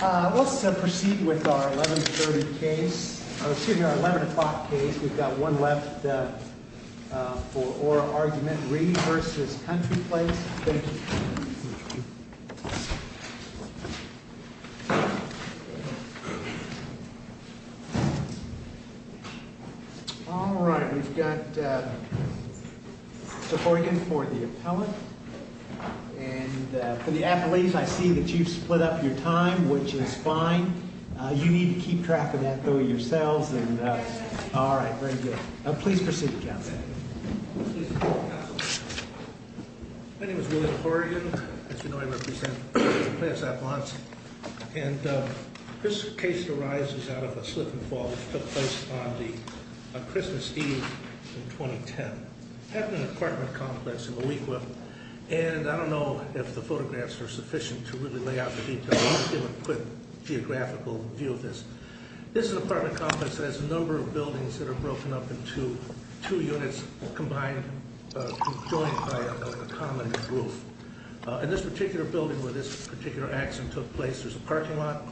Let's proceed with our 11-30 case, excuse me, our 11 o'clock case. We've got one left for oral argument. Reed v. Country Place. Thank you. All right, we've got Mr. Horgan for the appellate. And for the appellate, I see that you've split up your time, which is fine. You need to keep track of that, though, yourselves. All right, very good. Please proceed, counsel. My name is William Horgan. As you know, I represent Country Place-Apartments. And this case arises out of a slip-and-fall that took place on Christmas Eve in 2010. I have an apartment complex in Moico, and I don't know if the photographs are sufficient to really lay out the details. I'll just give a quick geographical view of this. This is an apartment complex that has a number of buildings that are broken up into two units combined, joined by a common roof. In this particular building, where this particular accident took place, there's a parking lot.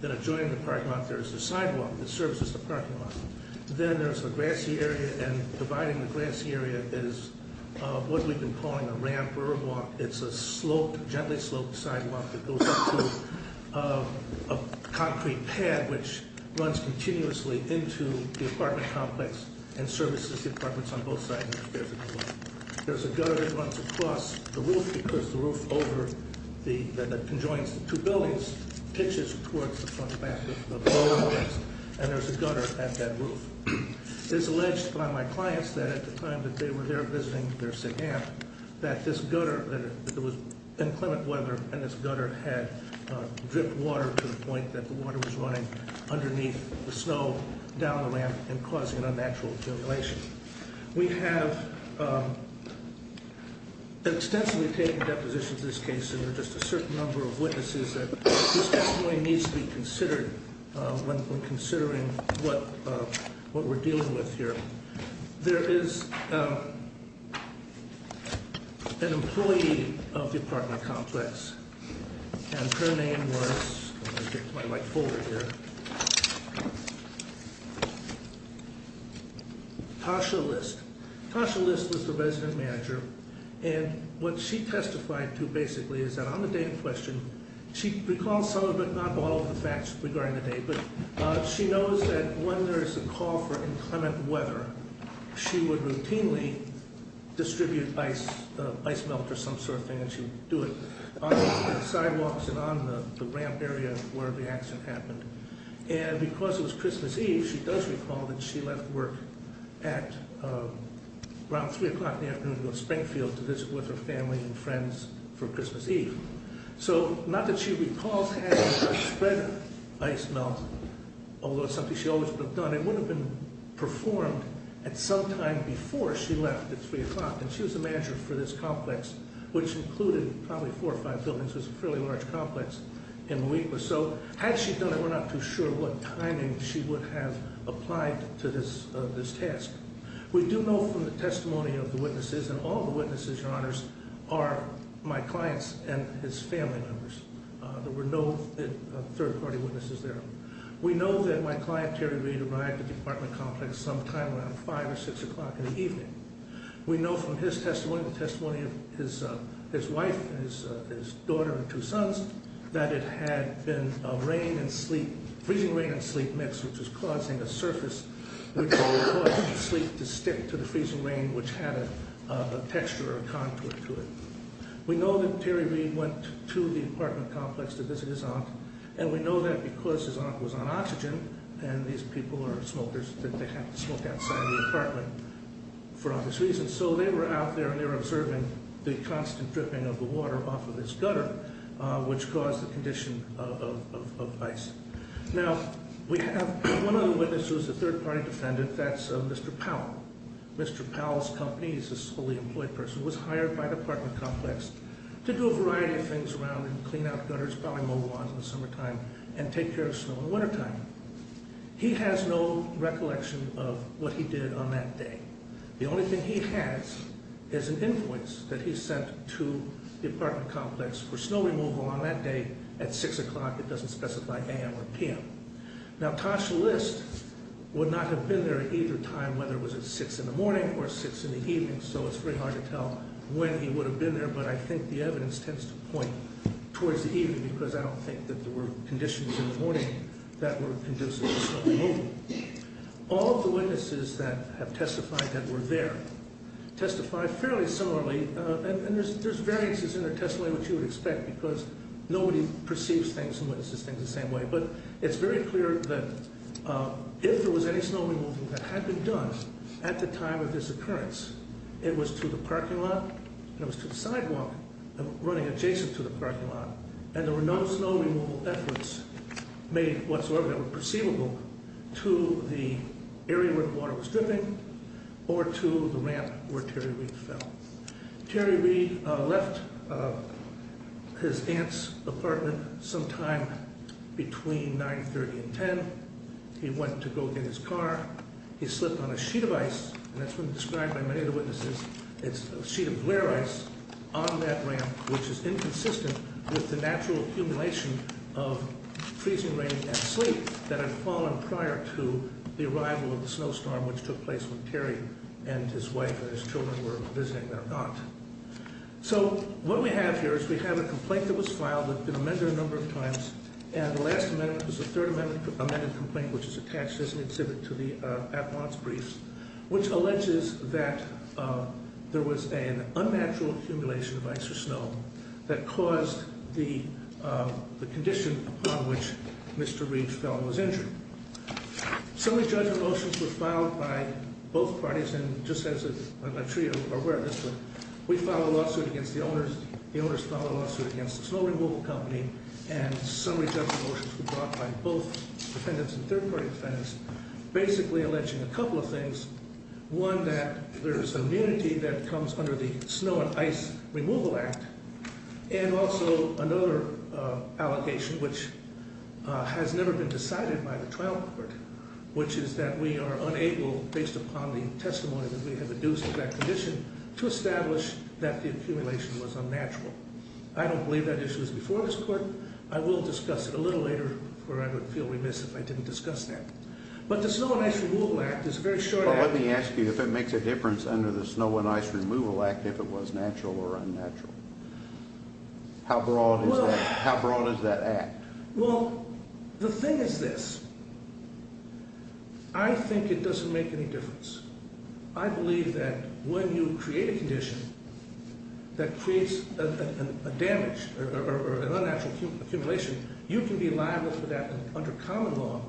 Then adjoining the parking lot, there's a sidewalk that serves as the parking lot. Then there's a grassy area, and dividing the grassy area is what we've been calling a ramp or a walk. It's a slope, gently sloped sidewalk that goes up to a concrete pad, which runs continuously into the apartment complex and services the apartments on both sides. There's a gutter that runs across the roof because the roof over the, that conjoins the two buildings, pitches towards the front and back of the building. And there's a gutter at that roof. It's alleged by my clients that at the time that they were there visiting their sick aunt, that this gutter, that it was inclement weather, and this gutter had dripped water to the point that the water was running underneath the snow down the ramp and causing unnatural accumulation. We have extensively taken depositions in this case, and there are just a certain number of witnesses that this definitely needs to be considered when considering what we're dealing with here. There is an employee of the apartment complex, and her name was, let me get my light folder here. Tasha List. Tasha List was the resident manager, and what she testified to basically is that on the day in question, she recalls some of it, not all of the facts regarding the day, but she knows that when there is a call for inclement weather, she would routinely distribute ice melt or some sort of thing, and she would do it on the sidewalks and on the ramp area where the accident happened. And because it was Christmas Eve, she does recall that she left work at around 3 o'clock in the afternoon to go to Springfield to visit with her family and friends for Christmas Eve. So not that she recalls having spread ice melt, although it's something she always would have done. It would have been performed at some time before she left at 3 o'clock, and she was the manager for this complex, which included probably four or five buildings. It was a fairly large complex, and so had she done it, we're not too sure what timing she would have applied to this test. We do know from the testimony of the witnesses, and all the witnesses, Your Honors, are my clients and his family members. There were no third-party witnesses there. We know that my client, Terry Reed, arrived at the apartment complex sometime around 5 or 6 o'clock in the evening. We know from his testimony, the testimony of his wife and his daughter and two sons, that it had been a freezing rain and sleep mix, which was causing a surface, which was causing the sleep to stick to the freezing rain, which had a texture or a contour to it. We know that Terry Reed went to the apartment complex to visit his aunt, and we know that because his aunt was on oxygen, and these people are smokers, that they had to smoke outside the apartment for obvious reasons, so they were out there and they were observing the constant dripping of the water off of this gutter, which caused the condition of ice. Now, we have one other witness who is a third-party defendant. That's Mr. Powell. Mr. Powell's company, he's a fully-employed person, was hired by the apartment complex to do a variety of things around and clean out gutters, probably mow lawns in the summertime, and take care of snow in the wintertime. He has no recollection of what he did on that day. The only thing he has is an invoice that he sent to the apartment complex for snow removal on that day at 6 o'clock. It doesn't specify a.m. or p.m. Now, Tosh List would not have been there at either time, whether it was at 6 in the morning or 6 in the evening, so it's very hard to tell when he would have been there, but I think the evidence tends to point towards the evening because I don't think that there were conditions in the morning that were conducive to snow removal. All of the witnesses that have testified that were there testified fairly similarly, and there's variances in their testimony, which you would expect, because nobody perceives things and witnesses things the same way. But it's very clear that if there was any snow removal that had been done at the time of this occurrence, it was to the parking lot and it was to the sidewalk running adjacent to the parking lot, and there were no snow removal efforts made whatsoever that were perceivable to the area where the water was dripping or to the ramp where Terry Reed fell. Terry Reed left his aunt's apartment sometime between 9.30 and 10. He went to go get his car. He slipped on a sheet of ice, and that's been described by many of the witnesses. It's a sheet of glare ice on that ramp, which is inconsistent with the natural accumulation of freezing rain and sleet that had fallen prior to the arrival of the snowstorm, which took place when Terry and his wife and his children were visiting their aunt. So what we have here is we have a complaint that was filed. It's been amended a number of times, and the last amendment was the third amendment complaint, which is attached as an exhibit to the advance briefs, which alleges that there was an unnatural accumulation of ice or snow that caused the condition upon which Mr. Reed fell and was injured. Summary judgment motions were filed by both parties, and just as I'm sure you're aware of this, we filed a lawsuit against the owners. The owners filed a lawsuit against the snow removal company, and summary judgment motions were brought by both defendants and third-party defendants, basically alleging a couple of things, one that there is immunity that comes under the Snow and Ice Removal Act, and also another allegation which has never been decided by the trial court, which is that we are unable, based upon the testimony that we have induced of that condition, to establish that the accumulation was unnatural. I don't believe that issue was before this court. I will discuss it a little later, or I would feel remiss if I didn't discuss that. But the Snow and Ice Removal Act is a very short act. Let me ask you if it makes a difference under the Snow and Ice Removal Act if it was natural or unnatural. How broad is that act? Well, the thing is this. I think it doesn't make any difference. I believe that when you create a condition that creates a damage or an unnatural accumulation, you can be liable for that under common law,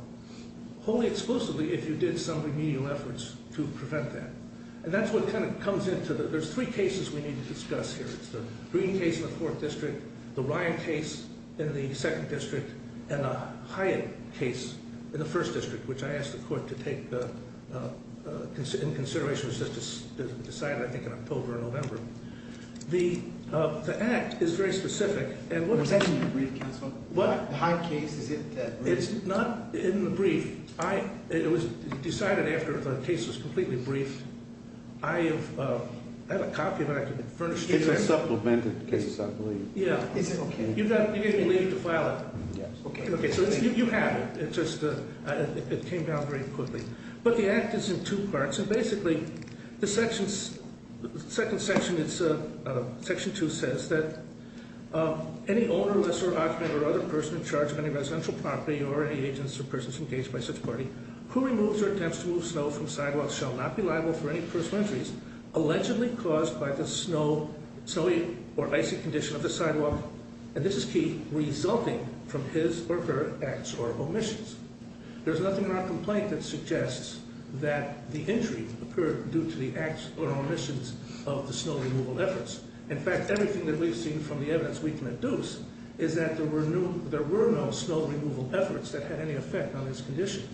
only exclusively if you did some remedial efforts to prevent that. And that's what kind of comes into it. There's three cases we need to discuss here. It's the Green case in the 4th District, the Ryan case in the 2nd District, and the Hyatt case in the 1st District, which I asked the court to take into consideration as it was decided, I think, in October or November. The act is very specific. Was that in your brief, counsel? What? The Hyatt case? Is it in the brief? It's not in the brief. It was decided after the case was completely briefed. I have a copy of it. It's a supplemented case, I believe. Yeah. Is it okay? You gave me leave to file it. Yes. Okay. So you have it. It came down very quickly. But the act is in two parts. And basically, the second section, section 2, says that any owner, lessor, occupant, or other person in charge of any residential property or any agents or persons engaged by such party who removes or attempts to move snow from sidewalks shall not be liable for any personal injuries allegedly caused by the snowy or icy condition of the sidewalk, and this is key, resulting from his or her acts or omissions. There's nothing in our complaint that suggests that the injury occurred due to the acts or omissions of the snow removal efforts. In fact, everything that we've seen from the evidence we can deduce is that there were no snow removal efforts that had any effect on this condition.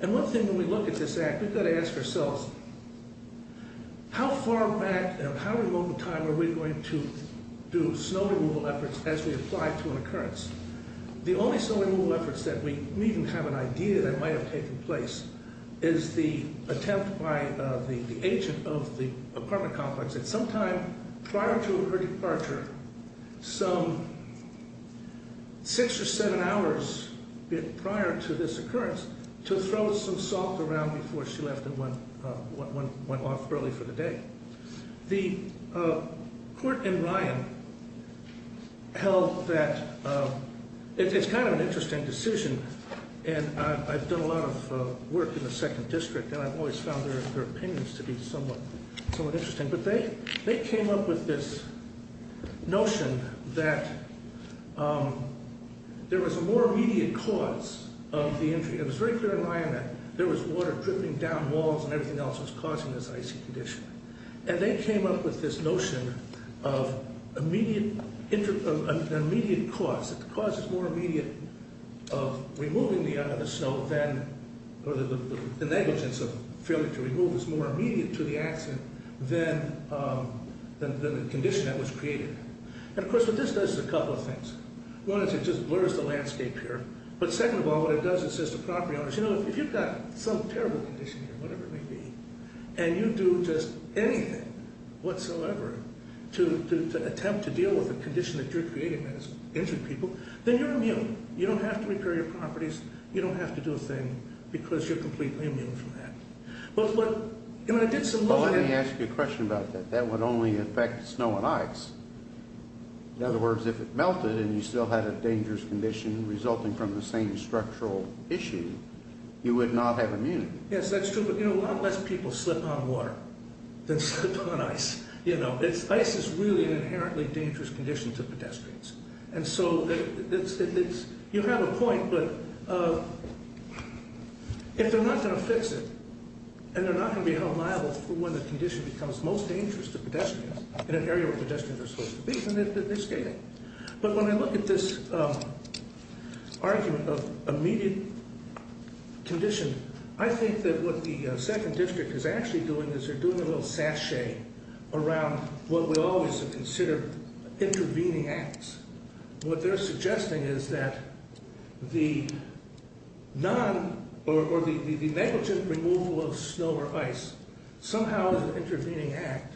And one thing when we look at this act, we've got to ask ourselves, how far back and how remote in time are we going to do snow removal efforts as we apply to an occurrence? The only snow removal efforts that we even have an idea that might have taken place is the attempt by the agent of the apartment complex at some time prior to her departure, some six or seven hours prior to this occurrence, to throw some salt around before she left and went off early for the day. The court in Ryan held that it's kind of an interesting decision, and I've done a lot of work in the second district and I've always found their opinions to be somewhat interesting, but they came up with this notion that there was a more immediate cause of the injury. It was very clear in Ryan that there was water dripping down walls and everything else that was causing this icy condition. And they came up with this notion of an immediate cause. The cause is more immediate of removing the snow, or the negligence of failing to remove is more immediate to the accident than the condition that was created. And of course what this does is a couple of things. One is it just blurs the landscape here. But second of all, what it does is it says to property owners, you know, if you've got some terrible condition here, whatever it may be, and you do just anything whatsoever to attempt to deal with a condition that you're creating that has injured people, then you're immune. You don't have to repair your properties. You don't have to do a thing because you're completely immune from that. Well, let me ask you a question about that. That would only affect snow and ice. In other words, if it melted and you still had a dangerous condition resulting from the same structural issue, you would not have immunity. Yes, that's true. But, you know, a lot less people slip on water than slip on ice. You know, ice is really an inherently dangerous condition to pedestrians. And so you have a point, but if they're not going to fix it and they're not going to be held liable for when the condition becomes most dangerous to pedestrians in an area where pedestrians are supposed to be, then they're skating. But when I look at this argument of immediate condition, I think that what the second district is actually doing is they're doing a little sachet around what we always have considered intervening acts. What they're suggesting is that the non- or the negligent removal of snow or ice somehow is an intervening act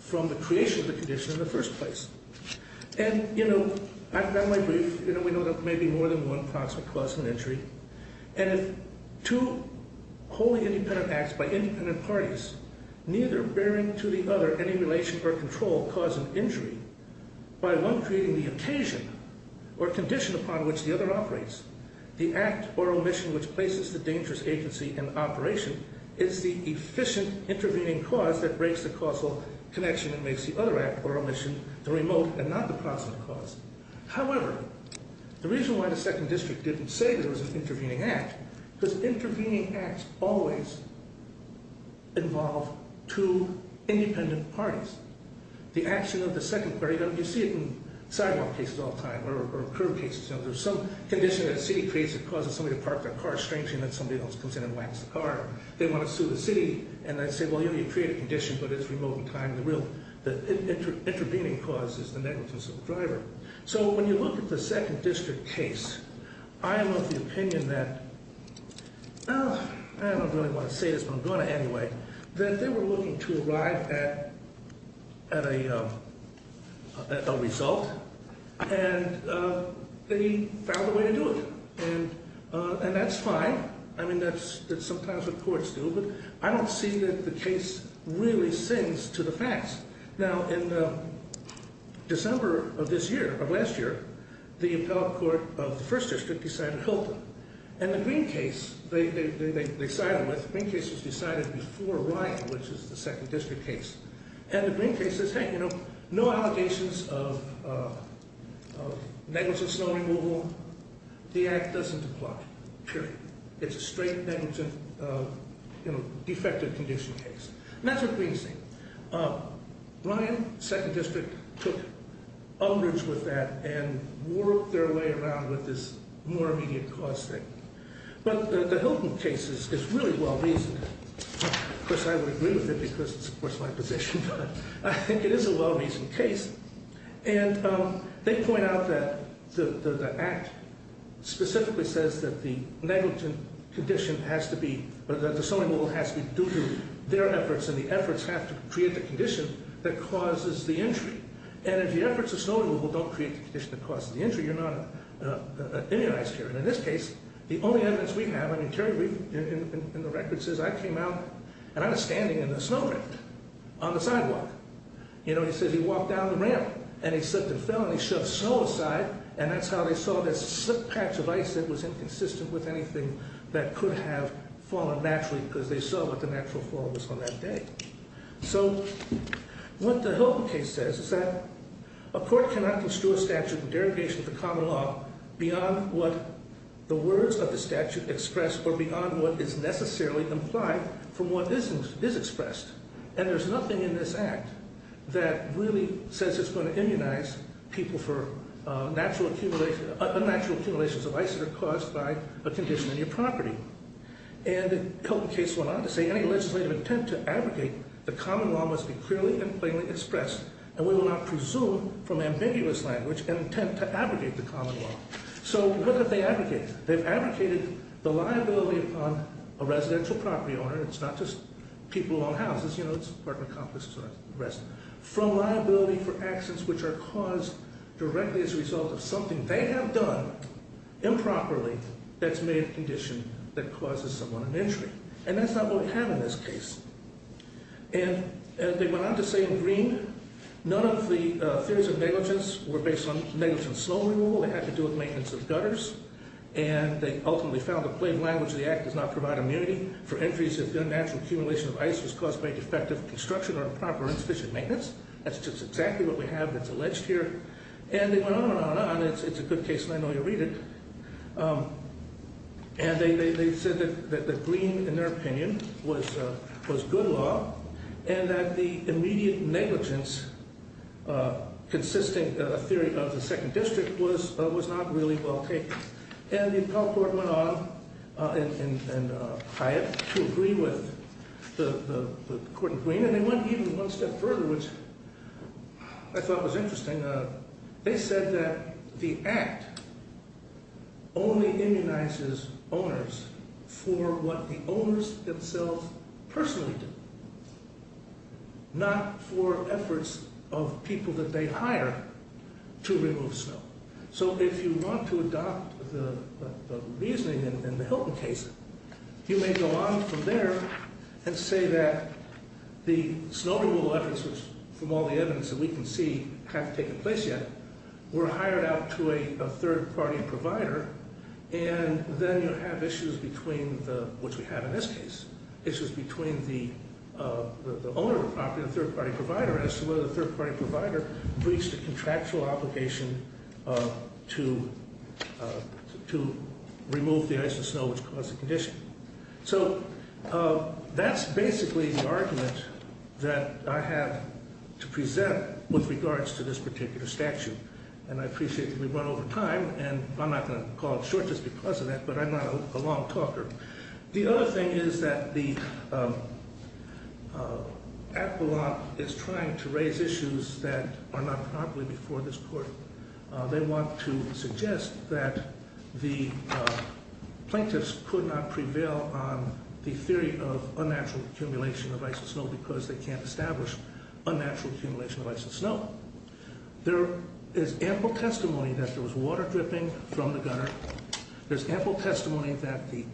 from the creation of the condition in the first place. And, you know, I've done my brief. You know, we know that maybe more than one proximate cause of an injury. And if two wholly independent acts by independent parties, neither bearing to the other any relation or control cause an injury, by one creating the occasion or condition upon which the other operates, the act or omission which places the dangerous agency in operation is the efficient intervening cause that breaks the causal connection that makes the other act or omission the remote and not the proximate cause. However, the reason why the second district didn't say there was an intervening act was intervening acts always involve two independent parties. The action of the second party, you know, you see it in sidewalk cases all the time or curb cases, you know, there's some condition that a city creates that causes somebody to park their car strangely and then somebody else comes in and whacks the car. They want to sue the city and they say, well, you know, you create a condition but it's remote in time. The real intervening cause is the negligence of the driver. So when you look at the second district case, I am of the opinion that, oh, I don't really want to say this but I'm going to anyway, that they were looking to arrive at a result and they found a way to do it. And that's fine. I mean, that's sometimes what courts do but I don't see that the case really sings to the facts. Now, in December of this year, of last year, the appellate court of the first district decided Hilton. And the Green case, they sided with, the Green case was decided before Ryan, which is the second district case. And the Green case says, hey, you know, no allegations of negligence in snow removal. The act doesn't apply, period. It's a straight negligence, you know, defective condition case. And that's a Green thing. Ryan, second district, took umbrage with that and worked their way around with this more immediate cause thing. But the Hilton case is really well-reasoned. Of course, I would agree with it because it supports my position. I think it is a well-reasoned case. And they point out that the act specifically says that the negligent condition has to be, that the snow removal has to be due to their efforts and the efforts have to create the condition that causes the injury. And if the efforts of snow removal don't create the condition that causes the injury, you're not immunized here. And in this case, the only evidence we have, I mean, Terry Rief in the record says, I came out and I was standing in a snowdrift on the sidewalk. You know, he says he walked down the ramp and he slipped and fell and he shoved snow aside, and that's how they saw this slick patch of ice that was inconsistent with anything that could have fallen naturally because they saw what the natural fall was on that day. So what the Hilton case says is that a court cannot construe a statute in derogation of the common law beyond what the words of the statute express or beyond what is necessarily implied from what is expressed. And there's nothing in this act that really says it's going to immunize people for unnatural accumulations of ice that are caused by a condition in your property. And the Hilton case went on to say any legislative intent to abrogate the common law must be clearly and plainly expressed, and we will not presume from ambiguous language an intent to abrogate the common law. So what did they abrogate? They've abrogated the liability upon a residential property owner, and it's not just people who own houses, you know, it's apartment complexes and the rest, from liability for actions which are caused directly as a result of something they have done improperly that's made a condition that causes someone an injury. And that's not what we have in this case. And they went on to say in Green, none of the theories of negligence were based on negligence in snow removal. They had to do with maintenance of gutters, and they ultimately found the plain language of the act does not provide immunity for entries if unnatural accumulation of ice was caused by defective construction or improper or insufficient maintenance. That's just exactly what we have that's alleged here. And they went on and on and on, and it's a good case, and I know you'll read it. And they said that Green, in their opinion, was good law and that the immediate negligence consisting of a theory of the second district was not really well taken. And the appellate court went on in Hyatt to agree with the court in Green, and they went even one step further, which I thought was interesting. They said that the act only immunizes owners for what the owners themselves personally do, not for efforts of people that they hire to remove snow. So if you want to adopt the reasoning in the Hilton case, you may go on from there and say that the snow removal efforts, from all the evidence that we can see, haven't taken place yet. We're hired out to a third-party provider, and then you have issues between, which we have in this case, issues between the owner of the property and the third-party provider as to whether the third-party provider breached a contractual obligation to remove the ice and snow which caused the condition. So that's basically the argument that I have to present with regards to this particular statute, and I appreciate that we've run over time, and I'm not going to call it short just because of that, but I'm not a long talker. The other thing is that the appellate is trying to raise issues that are not properly before this court. They want to suggest that the plaintiffs could not prevail on the theory of unnatural accumulation of ice and snow because they can't establish unnatural accumulation of ice and snow. There is ample testimony that there was water dripping from the gunner. There's ample testimony that the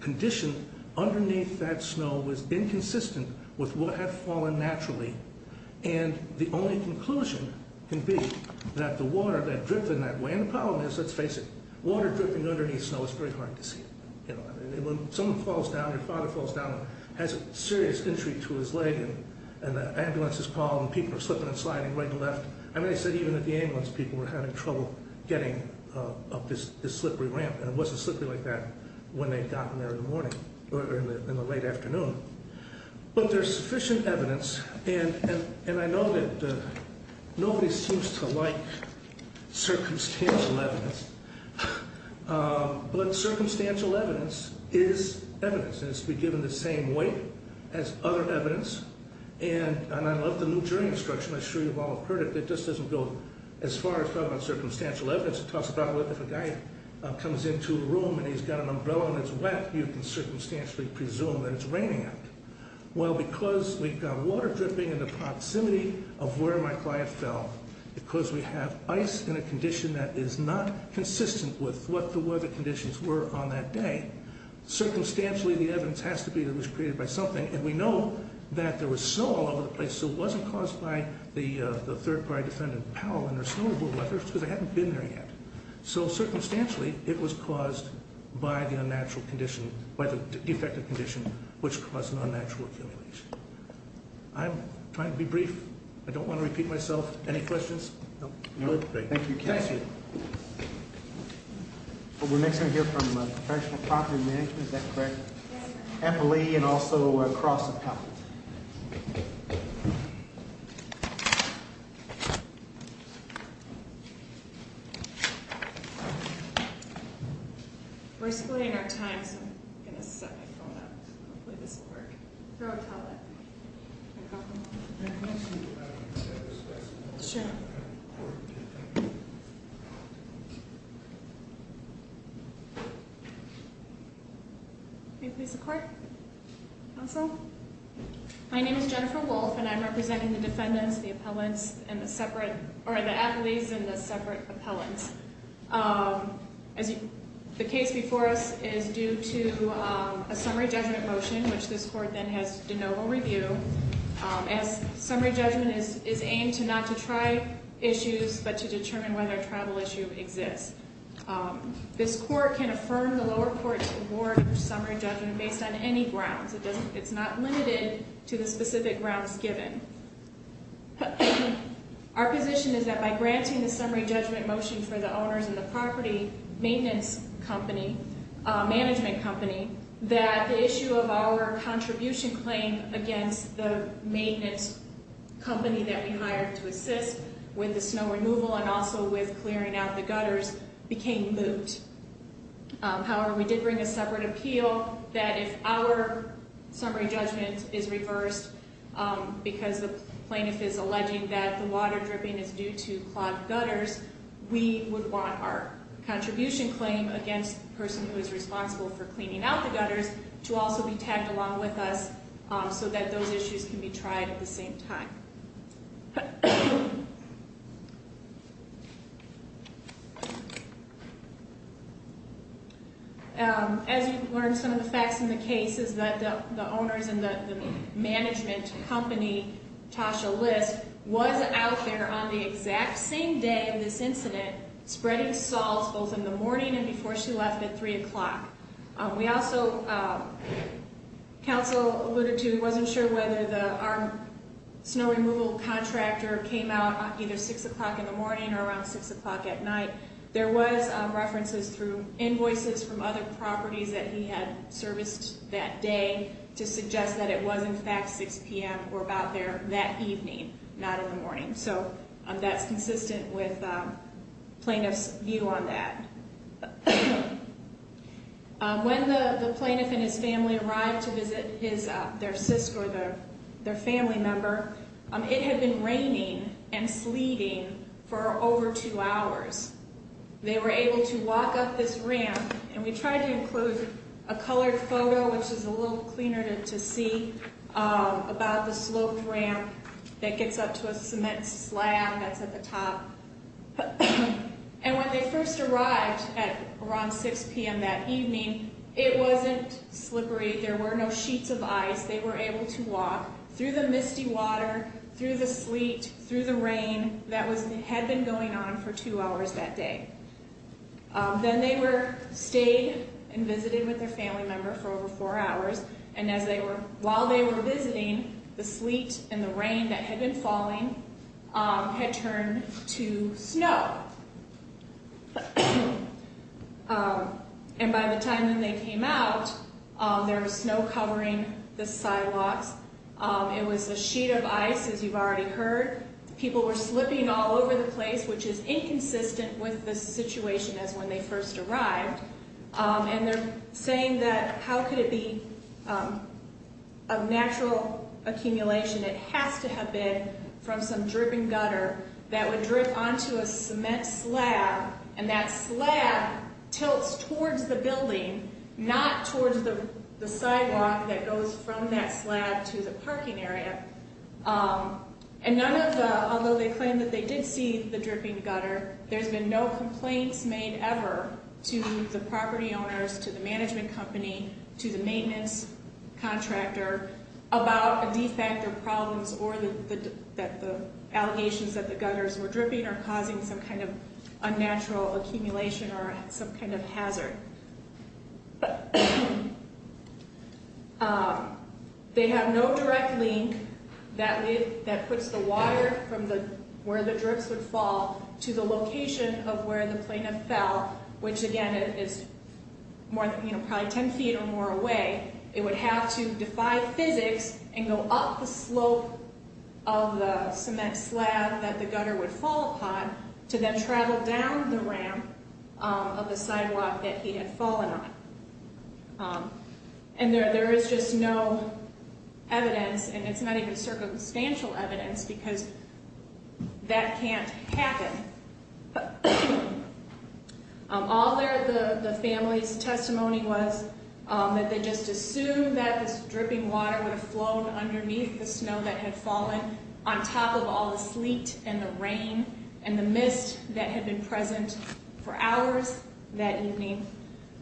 condition underneath that snow was inconsistent with what had fallen naturally, and the only conclusion can be that the water had dripped in that way, and the problem is, let's face it, water dripping underneath snow is very hard to see. When someone falls down, your father falls down and has a serious injury to his leg, and the ambulance is called and people are slipping and sliding right and left. I mean, they said even at the ambulance people were having trouble getting up this slippery ramp, and it wasn't slippery like that when they'd gotten there in the morning or in the late afternoon. But there's sufficient evidence, and I know that nobody seems to like circumstantial evidence, but circumstantial evidence is evidence, and it's to be given the same weight as other evidence, and I love the new jury instruction. I'm sure you've all heard it, but it just doesn't go as far as talking about circumstantial evidence. It talks about if a guy comes into a room and he's got an umbrella and it's wet, you can circumstantially presume that it's raining out. Well, because we've got water dripping in the proximity of where my client fell, because we have ice in a condition that is not consistent with what the weather conditions were on that day, circumstantially the evidence has to be that it was created by something, and we know that there was snow all over the place, so it wasn't caused by the third-party defendant Powell and her snowball weather, because they hadn't been there yet. So circumstantially it was caused by the defective condition, which caused an unnatural accumulation. I'm trying to be brief. I don't want to repeat myself. Any questions? No? Thank you. Thank you. We're next going to hear from professional property management, is that correct? Yes. Emily and also Cross and Powell. We're splitting our time, so I'm going to set my phone up. Hopefully this will work. Throw a towel at me. Can I have one? Can I ask you a question? Sure. Next court. Counsel. My name is Jennifer Wolfe, and I'm representing the defendants, the athletes, and the separate appellants. The case before us is due to a summary judgment motion, which this court then has de novo review, as summary judgment is aimed not to try issues but to determine whether a travel issue exists. This court can affirm the lower court's award of summary judgment based on any grounds. It's not limited to the specific grounds given. Our position is that by granting the summary judgment motion for the owners and the property maintenance company, management company, that the issue of our contribution claim against the maintenance company that we hired to assist with the snow removal and also with clearing out the gutters became moot. However, we did bring a separate appeal that if our summary judgment is reversed because the plaintiff is alleging that the water dripping is due to clogged gutters, we would want our contribution claim against the person who is responsible for cleaning out the gutters to also be tagged along with us so that those issues can be tried at the same time. As you've learned, some of the facts in the case is that the owners and the management company, Tasha List, was out there on the exact same day of this incident spreading salt both in the morning and before she left at 3 o'clock. We also, counsel alluded to, wasn't sure whether our snow removal contractor came out either 6 o'clock in the morning or around 6 o'clock at night. There was references through invoices from other properties that he had serviced that day to suggest that it was in fact 6 p.m. or about there that evening, not in the morning. So that's consistent with plaintiff's view on that. When the plaintiff and his family arrived to visit their sister or their family member, it had been raining and sleeting for over two hours. They were able to walk up this ramp, and we tried to include a colored photo, which is a little cleaner to see, about the sloped ramp that gets up to a cement slab that's at the top. And when they first arrived at around 6 p.m. that evening, it wasn't slippery. There were no sheets of ice. They were able to walk through the misty water, through the sleet, through the rain that had been going on for two hours that day. Then they stayed and visited with their family member for over four hours, and while they were visiting, the sleet and the rain that had been falling had turned to snow. And by the time when they came out, there was snow covering the sidewalks. It was a sheet of ice, as you've already heard. People were slipping all over the place, which is inconsistent with the situation as when they first arrived. And they're saying that how could it be of natural accumulation? It has to have been from some dripping gutter that would drip onto a cement slab, and that slab tilts towards the building, not towards the sidewalk that goes from that slab to the parking area. And none of the, although they claim that they did see the dripping gutter, there's been no complaints made ever to the property owners, to the management company, to the maintenance contractor about a defect or problems or that the allegations that the gutters were dripping are causing some kind of unnatural accumulation or some kind of hazard. They have no direct link that puts the water from where the drips would fall to the location of where the plaintiff fell, which again is probably ten feet or more away. It would have to defy physics and go up the slope of the cement slab that the gutter would fall upon to then travel down the ramp of the sidewalk that he had fallen on. And there is just no evidence, and it's not even circumstantial evidence, because that can't happen. All their, the family's testimony was that they just assumed that this dripping water would have flown underneath the snow that had fallen on top of all the sleet and the rain and the mist that had been present for hours that evening.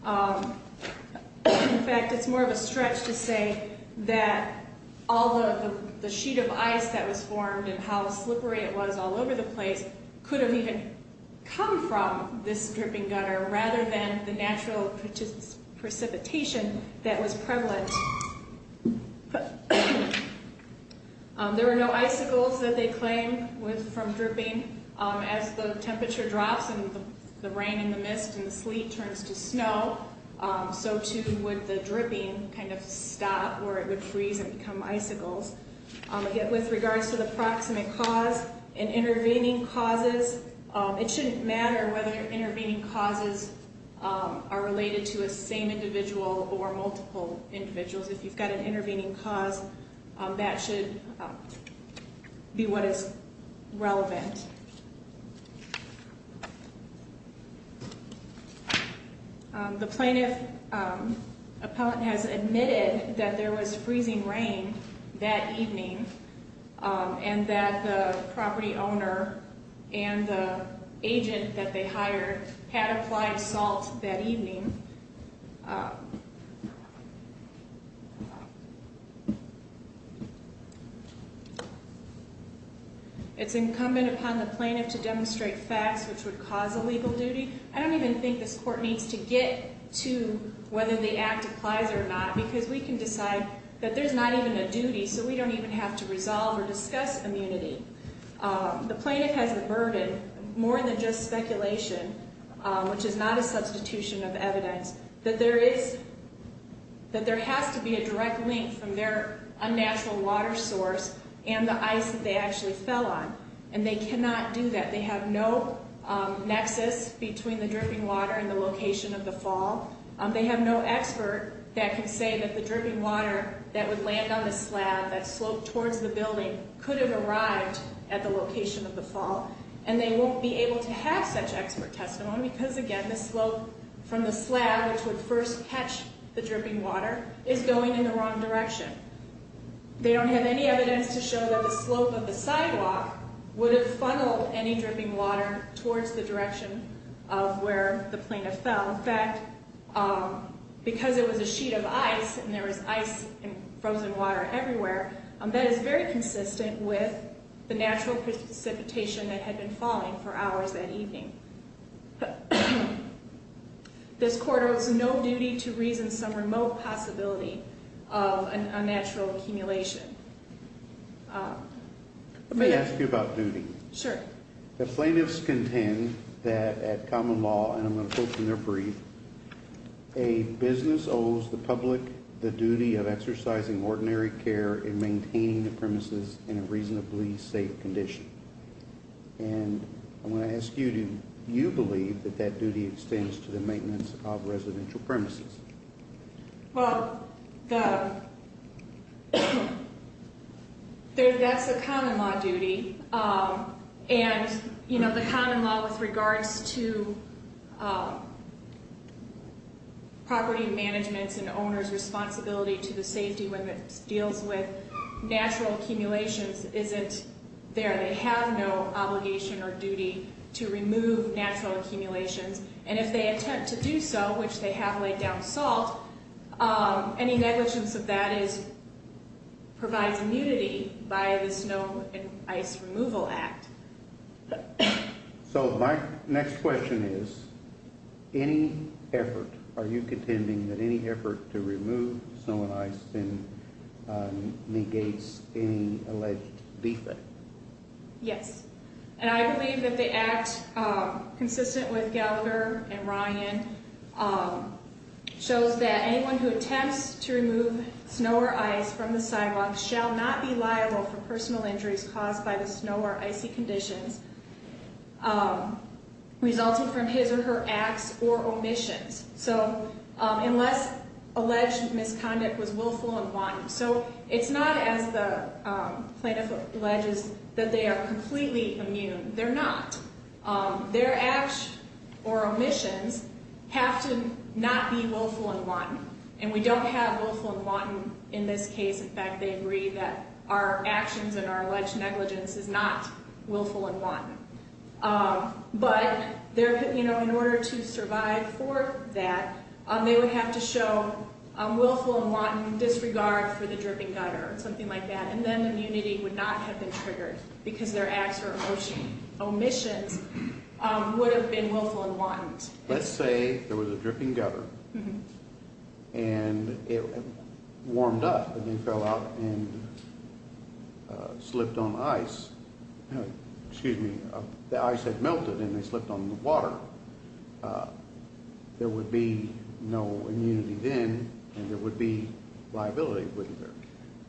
In fact, it's more of a stretch to say that all the sheet of ice that was formed and how slippery it was all over the place could have even come from this dripping gutter rather than the natural precipitation that was prevalent. There were no icicles that they claimed from dripping. As the temperature drops and the rain and the mist and the sleet turns to snow, so too would the dripping kind of stop where it would freeze and become icicles. With regards to the proximate cause and intervening causes, it shouldn't matter whether intervening causes are related to a same individual or multiple individuals. If you've got an intervening cause, that should be what is relevant. The plaintiff's appellant has admitted that there was freezing rain that evening and that the property owner and the agent that they hired had applied salt that evening. It's incumbent upon the plaintiff to demonstrate facts which would cause a legal duty. I don't even think this court needs to get to whether the act applies or not because we can decide that there's not even a duty so we don't even have to resolve or discuss immunity. The plaintiff has the burden, more than just speculation, which is not a substitution of evidence, that there has to be a direct link from their unnatural water source and the ice that they actually fell on, and they cannot do that. They have no nexus between the dripping water and the location of the fall. They have no expert that can say that the dripping water that would land on the slab that sloped towards the building could have arrived at the location of the fall, and they won't be able to have such expert testimony because, again, the slope from the slab, which would first catch the dripping water, is going in the wrong direction. They don't have any evidence to show that the slope of the sidewalk would have funneled any dripping water towards the direction of where the plaintiff fell. In fact, because it was a sheet of ice and there was ice and frozen water everywhere, that is very consistent with the natural precipitation that had been falling for hours that evening. This court owes no duty to reason some remote possibility of unnatural accumulation. Let me ask you about duty. Sure. The plaintiffs contend that at common law, and I'm going to quote from their brief, a business owes the public the duty of exercising ordinary care in maintaining the premises in a reasonably safe condition. And I'm going to ask you, do you believe that that duty extends to the maintenance of residential premises? Well, that's a common law duty. And, you know, the common law with regards to property management's and owner's responsibility to the safety when it deals with natural accumulations isn't there. They have no obligation or duty to remove natural accumulations. And if they attempt to do so, which they have laid down salt, any negligence of that provides immunity by the Snow and Ice Removal Act. So my next question is, any effort, are you contending that any effort to remove snow and ice then negates any alleged defect? Yes. And I believe that the act consistent with Gallagher and Ryan shows that anyone who attempts to remove snow or ice from the sidewalk shall not be liable for personal injuries caused by the snow or icy conditions resulting from his or her acts or omissions. So unless alleged misconduct was willful and violent. So it's not as the plaintiff alleges that they are completely immune. They're not. Their acts or omissions have to not be willful and wanton. And we don't have willful and wanton in this case. In fact, they agree that our actions and our alleged negligence is not willful and wanton. But in order to survive for that, they would have to show willful and wanton disregard for the dripping gutter or something like that. And then immunity would not have been triggered because their acts or omissions would have been willful and wanton. Let's say there was a dripping gutter and it warmed up and then fell out and slipped on ice. Excuse me. The ice had melted and they slipped on the water. There would be no immunity then and there would be liability, wouldn't there?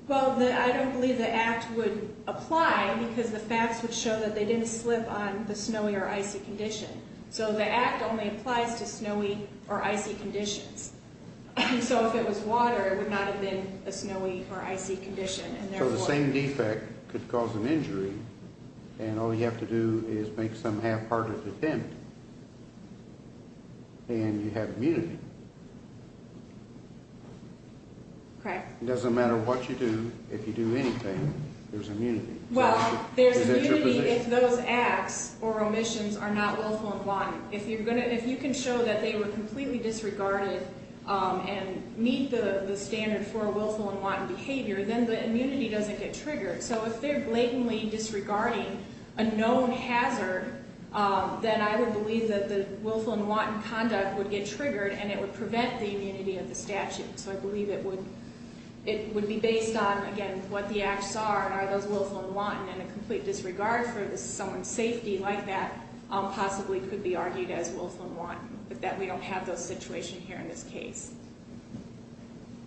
Well, I don't believe the act would apply because the facts would show that they didn't slip on the snowy or icy condition. So the act only applies to snowy or icy conditions. So if it was water, it would not have been a snowy or icy condition. So the same defect could cause an injury and all you have to do is make some half-hearted attempt and you have immunity. It doesn't matter what you do. If you do anything, there's immunity. Well, there's immunity if those acts or omissions are not willful and wanton. If you can show that they were completely disregarded and meet the standard for willful and wanton behavior, then the immunity doesn't get triggered. So if they're blatantly disregarding a known hazard, then I would believe that the willful and wanton conduct would get triggered and it would prevent the immunity of the statute. So I believe it would be based on, again, what the acts are and are those willful and wanton. And a complete disregard for someone's safety like that possibly could be argued as willful and wanton, but that we don't have those situations here in this case.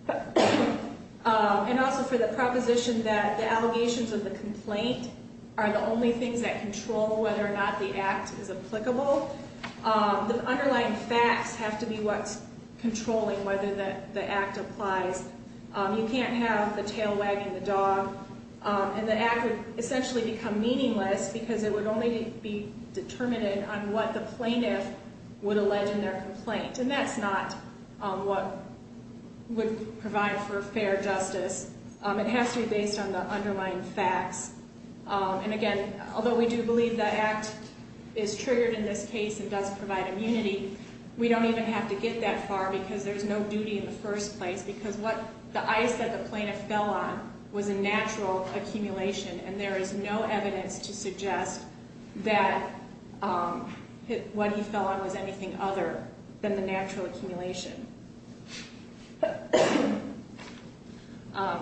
And also for the proposition that the allegations of the complaint are the only things that control whether or not the act is applicable, the underlying facts have to be what's controlling whether the act applies. You can't have the tail wagging the dog and the act would essentially become meaningless because it would only be determined on what the plaintiff would allege in their complaint. And that's not what would provide for fair justice. It has to be based on the underlying facts. And again, although we do believe the act is triggered in this case and does provide immunity, we don't even have to get that far because there's no duty in the first place because the ice that the plaintiff fell on was a natural accumulation and there is no evidence to suggest that what he fell on was anything other than the natural accumulation.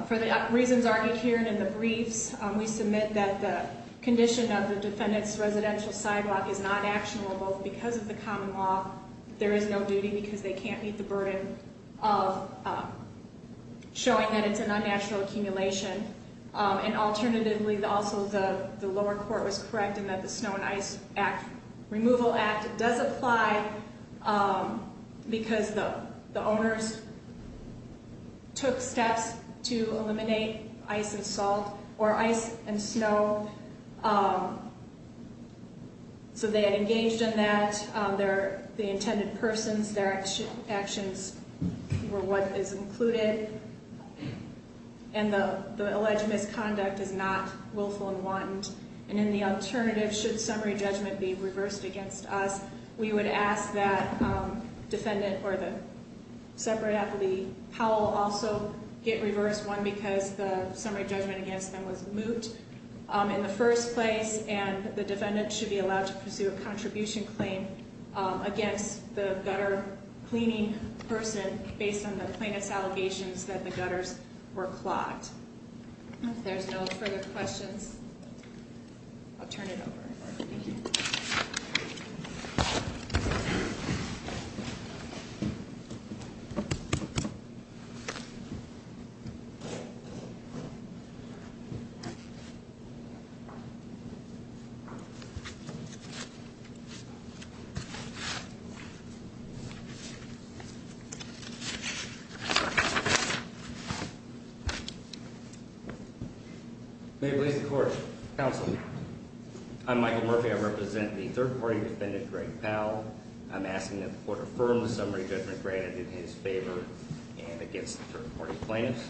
For the reasons argued here and in the briefs, we submit that the condition of the defendant's residential sidewalk is not actionable, both because of the common law, there is no duty because they can't meet the burden of showing that it's an unnatural accumulation, and alternatively also the lower court was correct in that the Snow and Ice Act, Removal Act does apply because the owners took steps to eliminate ice and salt or ice and snow so they engaged in that, the intended persons, their actions were what is included, and the alleged misconduct is not willful and wanton. And in the alternative, should summary judgment be reversed against us, we would ask that defendant or the separate aptly Powell also get reversed, one because the summary judgment against them was moot in the first place and the defendant should be allowed to pursue a contribution claim against the gutter cleaning person based on the plaintiff's allegations that the gutters were clogged. If there's no further questions, I'll turn it over. May it please the court. Counsel, I'm Michael Murphy. I represent the third-party defendant, Greg Powell. I'm asking that the court affirm the summary judgment granted in his favor and against the third-party plaintiffs.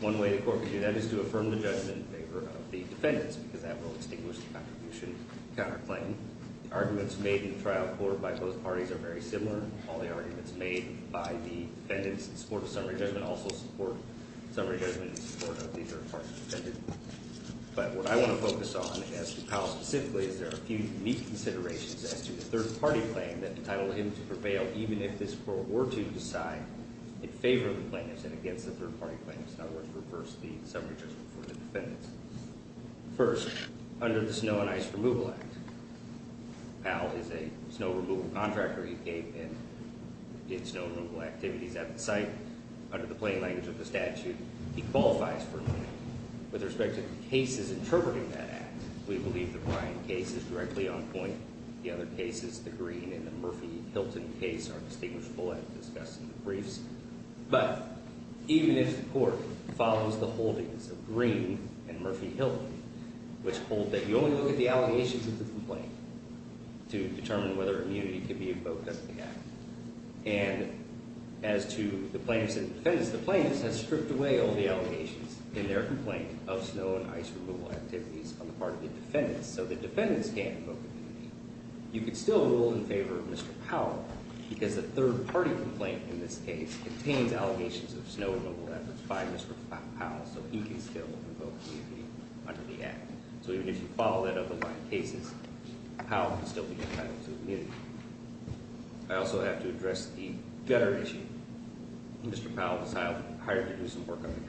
One way the court can do that is to affirm the judgment in favor of the defendants because that will extinguish the contribution counterclaim. The arguments made in the trial court by both parties are very similar. All the arguments made by the defendants in support of summary judgment also support summary judgment in support of the third-party defendant. But what I want to focus on, as to Powell specifically, is there are a few unique considerations as to the third-party claim that entitled him to prevail even if this court were to decide in favor of the plaintiffs and against the third-party plaintiffs. In other words, reverse the summary judgment for the defendants. First, under the Snow and Ice Removal Act, Powell is a snow removal contractor. He came and did snow removal activities at the site. Under the plain language of the statute, he qualifies for removal. With respect to the cases interpreting that act, we believe the Bryant case is directly on point. The other cases, the Green and the Murphy-Hilton case, are distinguishable as discussed in the briefs. But even if the court follows the holdings of Green and Murphy-Hilton, which hold that you only look at the allegations of the complaint to determine whether immunity can be invoked as an act, and as to the plaintiffs and defendants, the plaintiffs have stripped away all the allegations in their complaint of snow and ice removal activities on the part of the defendants, so the defendants can't invoke immunity. You can still rule in favor of Mr. Powell because the third-party complaint in this case contains allegations of snow removal efforts by Mr. Powell, so he can still invoke immunity under the act. So even if you follow that up in Bryant cases, Powell can still be entitled to immunity. I also have to address the gutter issue. Mr. Powell was hired to do some work on the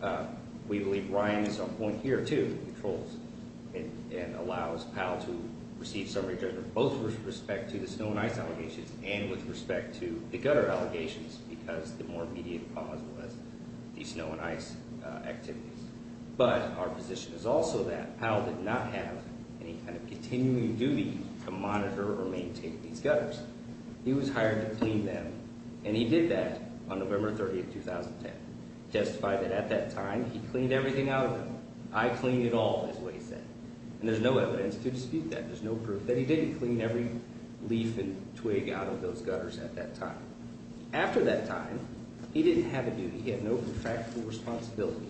gutter. We believe Bryant is on point here, too, with the trolls, and allows Powell to receive summary judgment both with respect to the snow and ice allegations and with respect to the gutter allegations because the more immediate cause was the snow and ice activities. But our position is also that Powell did not have any kind of continuing duty to monitor or maintain these gutters. He was hired to clean them, and he did that on November 30, 2010. He testified that at that time he cleaned everything out of them. I cleaned it all, is what he said. And there's no evidence to dispute that. There's no proof that he didn't clean every leaf and twig out of those gutters at that time. After that time, he didn't have a duty. He had no contractual responsibility.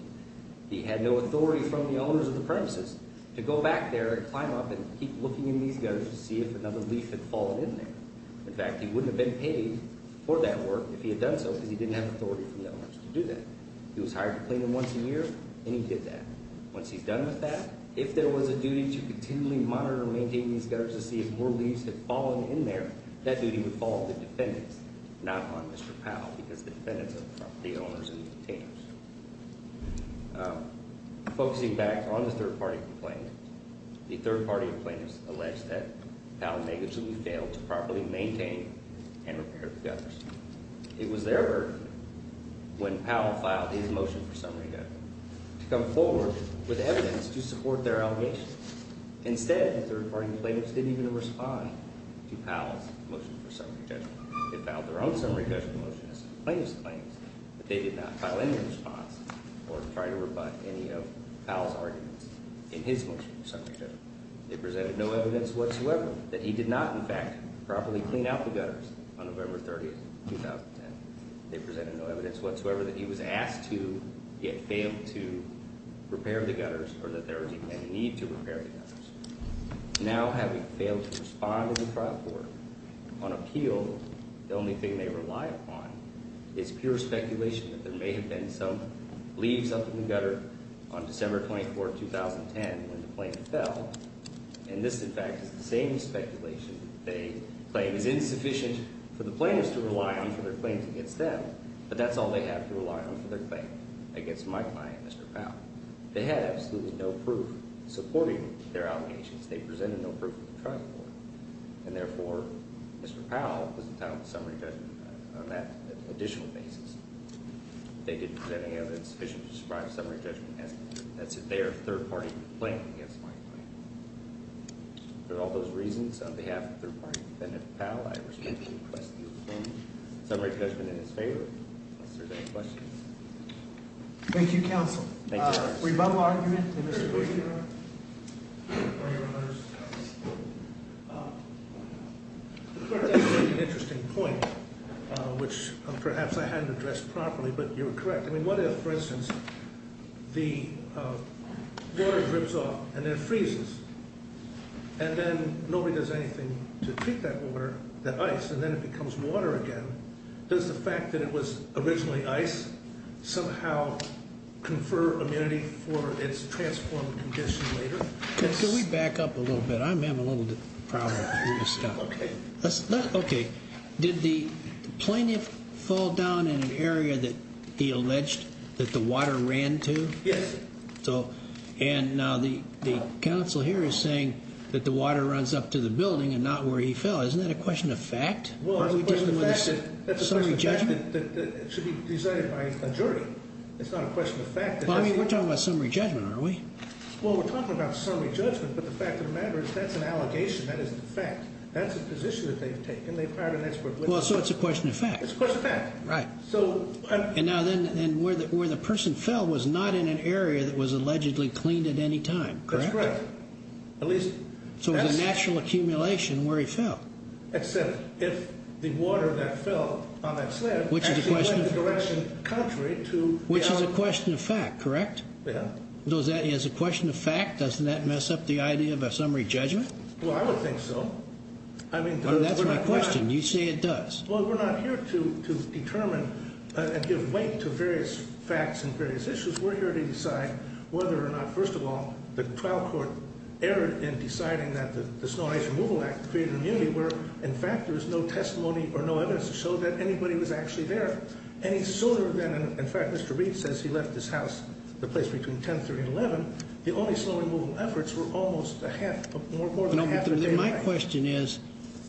He had no authority from the owners of the premises to go back there and climb up and keep looking in these gutters to see if another leaf had fallen in there. In fact, he wouldn't have been paid for that work if he had done so because he didn't have authority from the owners to do that. He was hired to clean them once a year, and he did that. Once he's done with that, if there was a duty to continually monitor and maintain these gutters to see if more leaves had fallen in there, that duty would fall on the defendants, not on Mr. Powell, because the defendants are the property owners and the containers. Focusing back on the third-party complaint, the third-party plaintiffs alleged that Powell may have truly failed to properly maintain and repair the gutters. It was their work, when Powell filed his motion for summary judgment, to come forward with evidence to support their allegations. Instead, the third-party plaintiffs didn't even respond to Powell's motion for summary judgment. They filed their own summary judgment motion as a plaintiff's claim, but they did not file any response or try to rebut any of Powell's arguments in his motion for summary judgment. They presented no evidence whatsoever that he did not, in fact, properly clean out the gutters on November 30, 2010. They presented no evidence whatsoever that he was asked to, yet failed to, repair the gutters or that there was even any need to repair the gutters. Now, having failed to respond to the trial court on appeal, the only thing they rely upon is pure speculation that there may have been some leaves up in the gutter on December 24, 2010, when the plane fell. And this, in fact, is the same speculation they claim is insufficient for the plaintiffs to rely on for their claims against them. But that's all they have to rely on for their claim against my client, Mr. Powell. They had absolutely no proof supporting their allegations. They presented no proof to the trial court. And, therefore, Mr. Powell was entitled to summary judgment on that additional basis. They didn't present any evidence sufficient to describe summary judgment as their third-party claim against my client. For all those reasons, on behalf of the third-party defendant, Powell, I respectfully request the opinion. Summary judgment in his favor. Thank you, counsel. Rebuttal argument. That's an interesting point, which perhaps I hadn't addressed properly, but you're correct. I mean, what if, for instance, the water drips off and then freezes? And then nobody does anything to treat that water, that ice, and then it becomes water again. Does the fact that it was originally ice somehow confer immunity for its transformed condition later? Could we back up a little bit? I'm having a little problem with this stuff. Okay. Okay. Did the plaintiff fall down in an area that he alleged that the water ran to? Yes. And now the counsel here is saying that the water runs up to the building and not where he fell. Isn't that a question of fact? Well, it's a question of fact. Summary judgment? That should be decided by a jury. It's not a question of fact. Well, I mean, we're talking about summary judgment, aren't we? Well, we're talking about summary judgment, but the fact of the matter is that's an allegation. That isn't a fact. That's a position that they've taken. They've hired an expert. Well, so it's a question of fact. It's a question of fact. Right. And now then where the person fell was not in an area that was allegedly cleaned at any time, correct? That's correct. So it was a natural accumulation where he fell. Except if the water that fell on that slab actually went in the direction contrary to the element. Which is a question of fact, correct? Yeah. As a question of fact, doesn't that mess up the idea of a summary judgment? Well, I would think so. That's my question. You say it does. Well, we're not here to determine and give weight to various facts and various issues. We're here to decide whether or not, first of all, the trial court erred in deciding that the Snow Range Removal Act created an immunity where, in fact, there was no testimony or no evidence to show that anybody was actually there. Any sooner than, in fact, Mr. Reed says he left his house, the place between 10, 30, and 11, the only snow removal efforts were almost more than half a day late. My question is,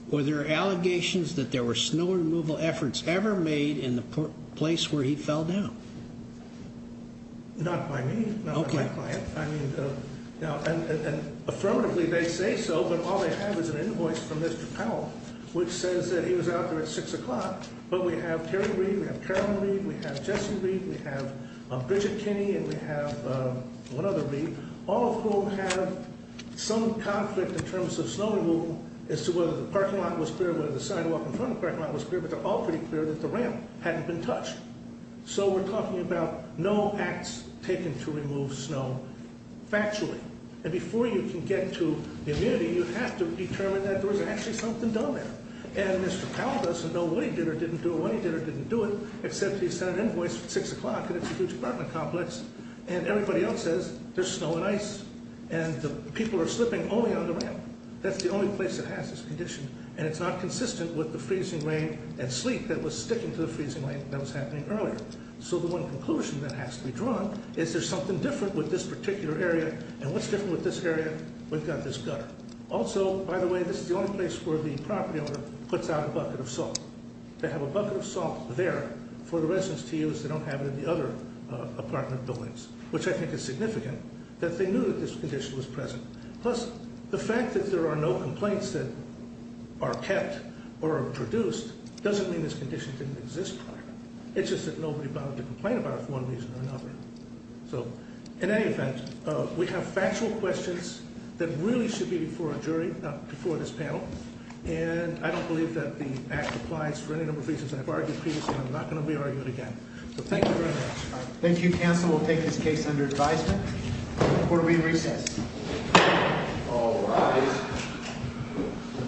were there allegations that there were snow removal efforts ever made in the place where he fell down? Not by me. Not by my client. Affirmatively, they say so, but all they have is an invoice from Mr. Powell, which says that he was out there at 6 o'clock. But we have Terry Reed, we have Carol Reed, we have Jesse Reed, we have Bridget Kinney, and we have one other Reed, all of whom have some conflict in terms of snow removal as to whether the parking lot was clear, whether the sidewalk in front of the parking lot was clear. But they're all pretty clear that the ramp hadn't been touched. So we're talking about no acts taken to remove snow factually. And before you can get to the immunity, you have to determine that there was actually something done there. And Mr. Powell doesn't know what he did or didn't do or when he did or didn't do it, except he sent an invoice at 6 o'clock, and it's a huge apartment complex. And everybody else says there's snow and ice, and the people are slipping only on the ramp. That's the only place that has this condition. And it's not consistent with the freezing rain and sleet that was sticking to the freezing rain that was happening earlier. So the one conclusion that has to be drawn is there's something different with this particular area. And what's different with this area? We've got this gutter. Also, by the way, this is the only place where the property owner puts out a bucket of salt. They have a bucket of salt there for the residents to use. They don't have it in the other apartment buildings, which I think is significant that they knew that this condition was present. Plus, the fact that there are no complaints that are kept or produced doesn't mean this condition didn't exist prior. It's just that nobody bothered to complain about it for one reason or another. So in any event, we have factual questions that really should be before a jury, not before this panel. And I don't believe that the act applies for any number of reasons I've argued previously, and I'm not going to be arguing again. So thank you very much. Thank you, counsel. We'll take this case under advisement. Court will be in recess. All rise.